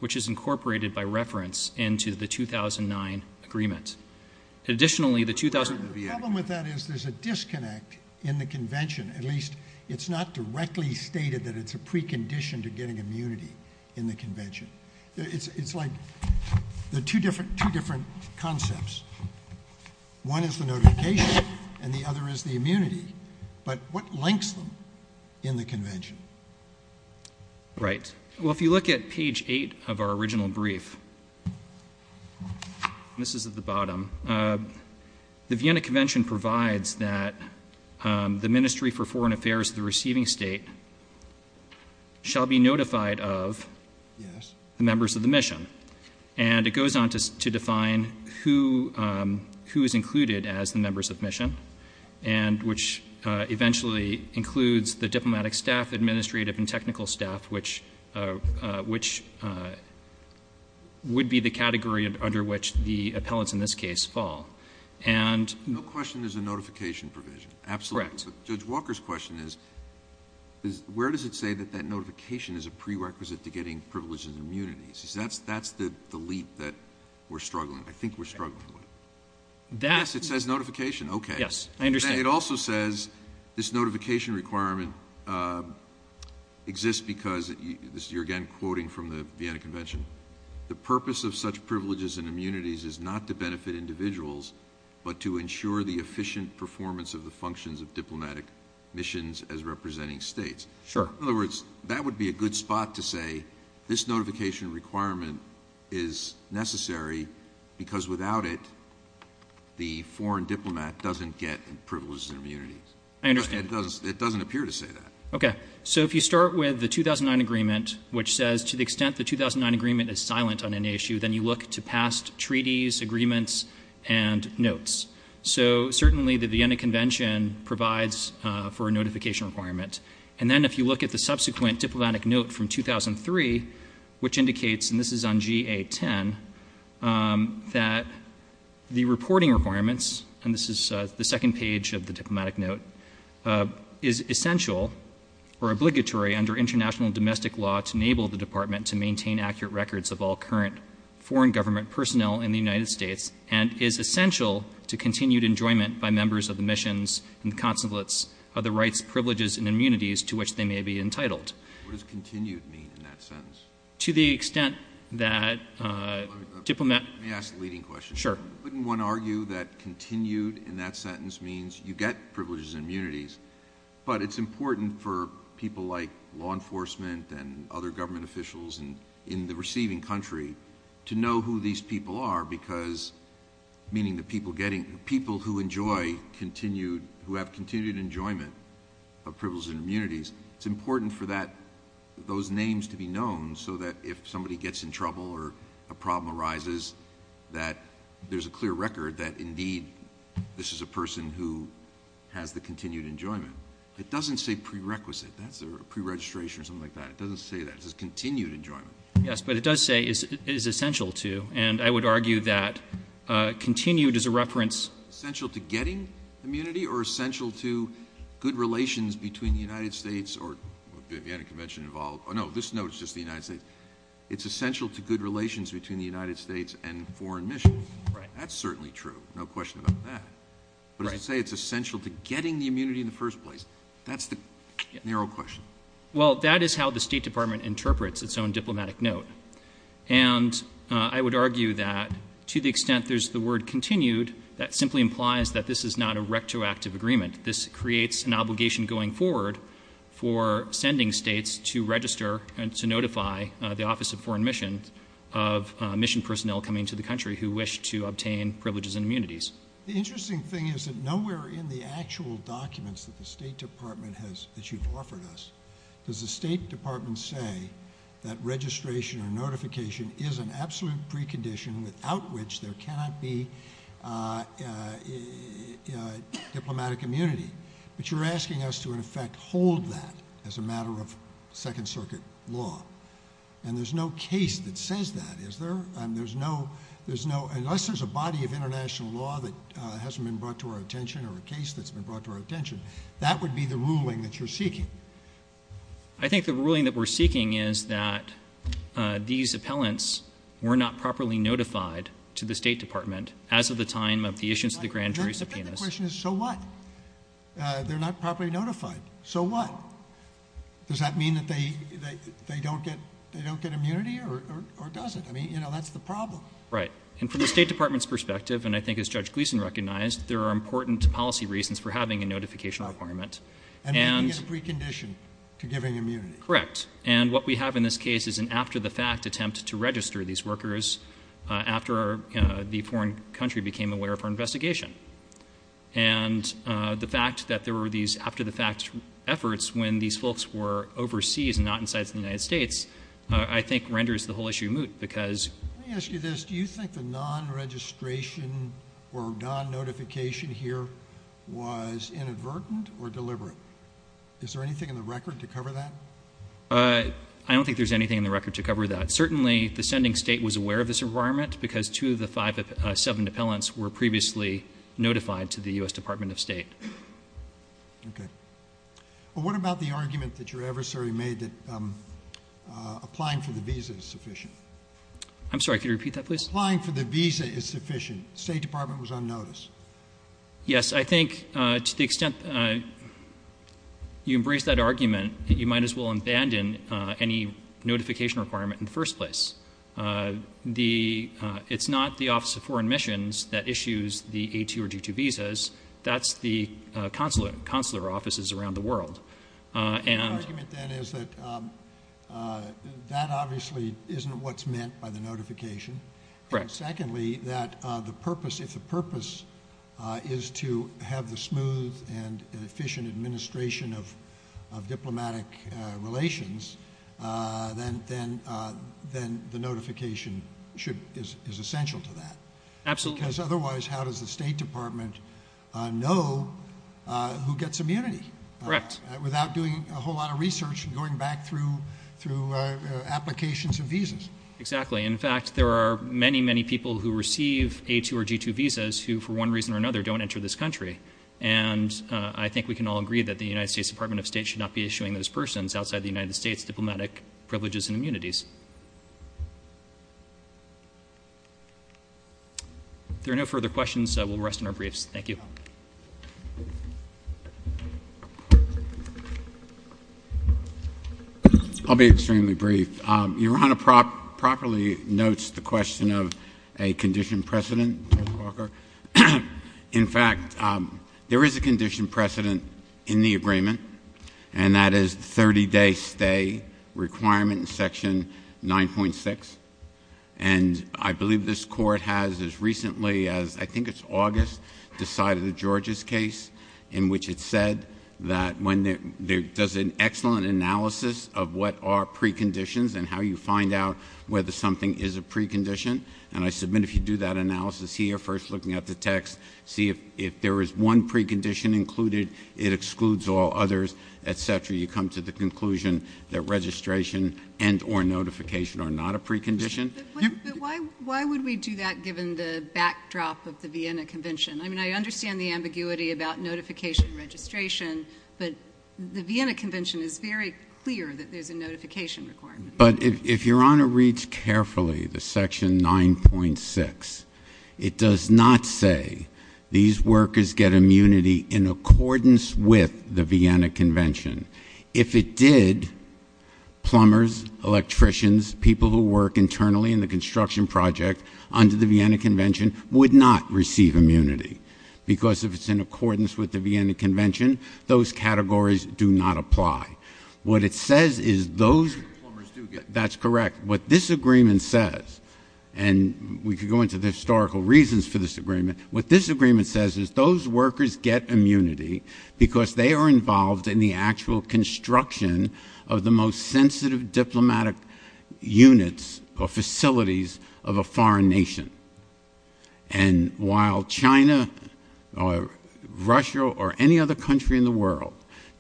which is incorporated by reference into the 2009 agreement. The problem with that is there's a disconnect in the convention. At least it's not directly stated that it's a precondition to getting immunity in the convention. It's like there are two different concepts. One is the notification and the other is the immunity. But what links them in the convention? Right. Well, if you look at page 8 of our original brief, and this is at the bottom, the Vienna Convention provides that the Ministry for Foreign Affairs of the receiving state shall be notified of the members of the mission. And it goes on to define who is included as the members of mission, and which eventually includes the diplomatic staff, administrative and technical staff, which would be the category under which the appellants in this case fall. No question there's a notification provision. Absolutely. Correct. Judge Walker's question is where does it say that that notification is a prerequisite to getting privileges and immunities? That's the leap that we're struggling with. I think we're struggling with it. Yes, it says notification. Okay. Yes, I understand. It also says this notification requirement exists because, you're again quoting from the Vienna Convention, the purpose of such privileges and immunities is not to benefit individuals but to ensure the efficient performance of the functions of diplomatic missions as representing states. Sure. In other words, that would be a good spot to say this notification requirement is necessary because without it the foreign diplomat doesn't get privileges and immunities. I understand. It doesn't appear to say that. Okay. So if you start with the 2009 agreement, which says to the extent the 2009 agreement is silent on any issue, then you look to past treaties, agreements, and notes. So certainly the Vienna Convention provides for a notification requirement. And then if you look at the subsequent diplomatic note from 2003, which indicates, and this is on GA10, that the reporting requirements, and this is the second page of the diplomatic note, is essential or obligatory under international domestic law to enable the department to maintain accurate records of all current foreign government personnel in the United States and is essential to continued enjoyment by members of the missions and the consequence of the rights, privileges, and immunities to which they may be entitled. What does continued mean in that sentence? To the extent that diplomat... Let me ask a leading question. Sure. I wouldn't want to argue that continued in that sentence means you get privileges and immunities, but it's important for people like law enforcement and other government officials in the receiving country to know who these people are because, meaning the people who enjoy continued, who have continued enjoyment of privileges and immunities, it's important for those names to be known so that if somebody gets in trouble or a problem arises, that there's a clear record that, indeed, this is a person who has the continued enjoyment. It doesn't say prerequisite. That's a preregistration or something like that. It doesn't say that. It says continued enjoyment. Yes, but it does say it is essential to, and I would argue that continued is a reference... Essential to getting immunity or essential to good relations between the United States or... You had a convention involved. No, this note is just the United States. It's essential to good relations between the United States and foreign missions. That's certainly true. No question about that. But it doesn't say it's essential to getting the immunity in the first place. That's the narrow question. Well, that is how the State Department interprets its own diplomatic note, and I would argue that to the extent there's the word continued, that simply implies that this is not a rectoactive agreement. This creates an obligation going forward for sending states to register and to notify the Office of Foreign Missions of mission personnel coming to the country who wish to obtain privileges and immunities. The interesting thing is that nowhere in the actual documents that the State Department has issued or offered us does the State Department say that registration or notification is an absolute precondition without which there cannot be diplomatic immunity. But you're asking us to, in effect, hold that as a matter of Second Circuit law, and there's no case that says that, is there? Unless there's a body of international law that hasn't been brought to our attention or a case that's been brought to our attention. That would be the ruling that you're seeking. I think the ruling that we're seeking is that these appellants were not properly notified to the State Department as of the time of the issuance of the grand jury subpoenas. The question is, so what? They're not properly notified. So what? Does that mean that they don't get immunity or does it? I mean, you know, that's the problem. Right. And from the State Department's perspective, and I think as Judge Gleeson recognized, there are important policy reasons for having a notification requirement. And making it a precondition to giving immunity. Correct. And what we have in this case is an after-the-fact attempt to register these workers after the foreign country became aware of our investigation. And the fact that there were these after-the-fact efforts when these folks were overseas and not in sites in the United States, I think renders the whole issue moot. Let me ask you this. Do you think the non-registration or non-notification here was inadvertent or deliberate? Is there anything in the record to cover that? I don't think there's anything in the record to cover that. Certainly, the sending state was aware of this requirement because two of the seven appellants were previously notified to the U.S. Department of State. Okay. Well, what about the argument that your adversary made that applying for the visa is sufficient? I'm sorry. Could you repeat that, please? Applying for the visa is sufficient. The State Department was unnoticed. Yes. I think to the extent you embrace that argument, you might as well abandon any notification requirement in the first place. It's not the Office of Foreign Missions that issues the A2 or G2 visas. That's the consular offices around the world. The argument then is that that obviously isn't what's meant by the notification. Correct. Secondly, if the purpose is to have the smooth and efficient administration of diplomatic relations, then the notification is essential to that. Absolutely. Because otherwise, how does the State Department know who gets immunity? Correct. Without doing a whole lot of research and going back through applications and visas. Exactly. In fact, there are many, many people who receive A2 or G2 visas who for one reason or another don't enter this country. And I think we can all agree that the United States Department of State should not be issuing those persons outside the United States diplomatic privileges and immunities. If there are no further questions, we'll rest in our briefs. Thank you. I'll be extremely brief. Your Honor properly notes the question of a condition precedent, Mr. Walker. In fact, there is a condition precedent in the agreement, and that is the 30-day stay requirement in Section 9.6. And I believe this Court has as recently as I think it's August decided a Georgia's case in which it said that when there's an excellent analysis of what are preconditions and how you find out whether something is a precondition, and I submit if you do that analysis here, first looking at the text, see if there is one precondition included, it excludes all others, et cetera, you come to the conclusion that registration and or notification are not a precondition. But why would we do that given the backdrop of the Vienna Convention? I mean, I understand the ambiguity about notification registration, but the Vienna Convention is very clear that there's a notification requirement. But if Your Honor reads carefully the Section 9.6, it does not say these workers get immunity in accordance with the Vienna Convention. If it did, plumbers, electricians, people who work internally in the construction project under the Vienna Convention would not receive immunity because if it's in accordance with the Vienna Convention, those categories do not apply. What it says is those—that's correct. What this agreement says, and we could go into the historical reasons for this agreement, what this agreement says is those workers get immunity because they are involved in the actual construction of the most sensitive diplomatic units or facilities of a foreign nation. And while China or Russia or any other country in the world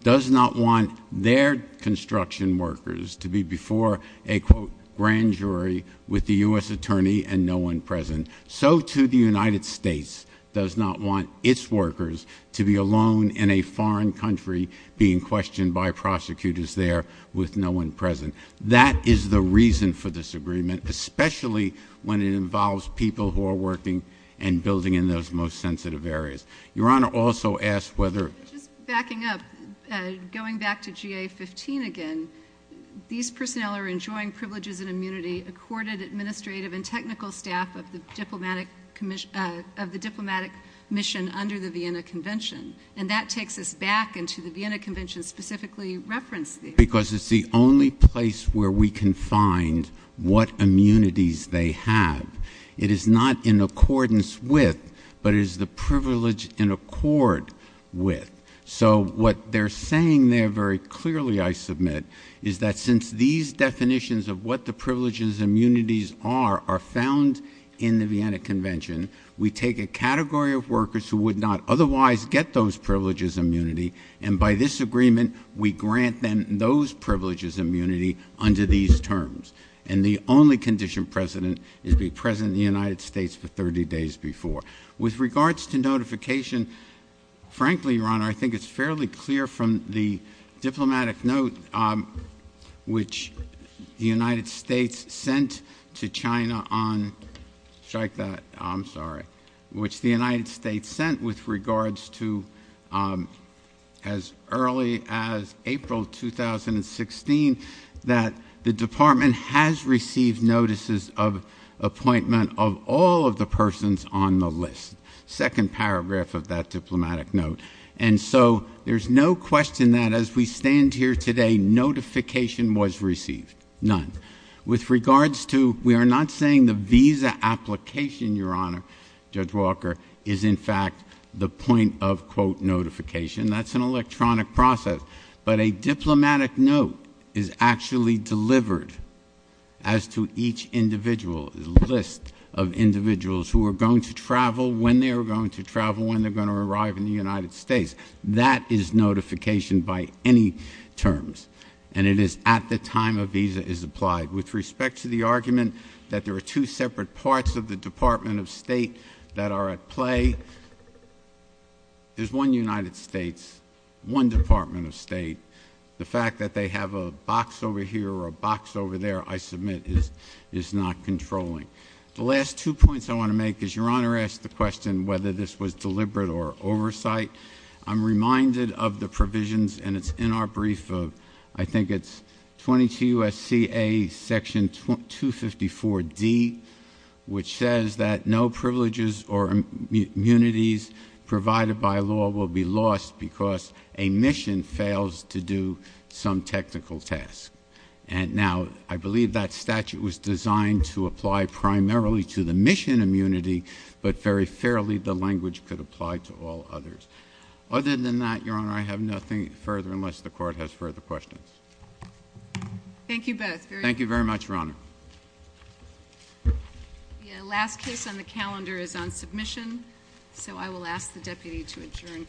does not want their construction workers to be before a, quote, grand jury with the U.S. attorney and no one present, so too the United States does not want its workers to be alone in a foreign country being questioned by prosecutors there with no one present. That is the reason for this agreement, especially when it involves people who are working and building in those most sensitive areas. Your Honor also asked whether— Just backing up, going back to GA-15 again, these personnel are enjoying privileges and immunity accorded administrative and technical staff of the diplomatic mission under the Vienna Convention, and that takes us back into the Vienna Convention specifically referenced there. Because it's the only place where we can find what immunities they have. It is not in accordance with, but it is the privilege in accord with. So what they're saying there very clearly, I submit, is that since these definitions of what the privileges and immunities are are found in the Vienna Convention, we take a category of workers who would not otherwise get those privileges and immunity, and by this agreement we grant them those privileges and immunity under these terms. And the only condition, President, is to be President of the United States for 30 days before. With regards to notification, frankly, Your Honor, I think it's fairly clear from the diplomatic note which the United States sent to China on— strike that, I'm sorry— which the United States sent with regards to as early as April 2016 that the Department has received notices of appointment of all of the persons on the list. Second paragraph of that diplomatic note. And so there's no question that as we stand here today, notification was received. None. With regards to—we are not saying the visa application, Your Honor, Judge Walker, is in fact the point of, quote, notification. That's an electronic process. But a diplomatic note is actually delivered as to each individual, a list of individuals who are going to travel, when they are going to travel, when they're going to arrive in the United States. That is notification by any terms, and it is at the time a visa is applied. With respect to the argument that there are two separate parts of the Department of State that are at play, there's one United States, one Department of State. The fact that they have a box over here or a box over there, I submit, is not controlling. The last two points I want to make is Your Honor asked the question whether this was deliberate or oversight. I'm reminded of the provisions, and it's in our brief of, I think it's 22 U.S.C.A. Section 254D, which says that no privileges or immunities provided by law will be lost because a mission fails to do some technical task. And now, I believe that statute was designed to apply primarily to the mission immunity, but very fairly the language could apply to all others. Other than that, Your Honor, I have nothing further unless the Court has further questions. Thank you both. Thank you very much, Your Honor. The last case on the calendar is on submission, so I will ask the deputy to adjourn court.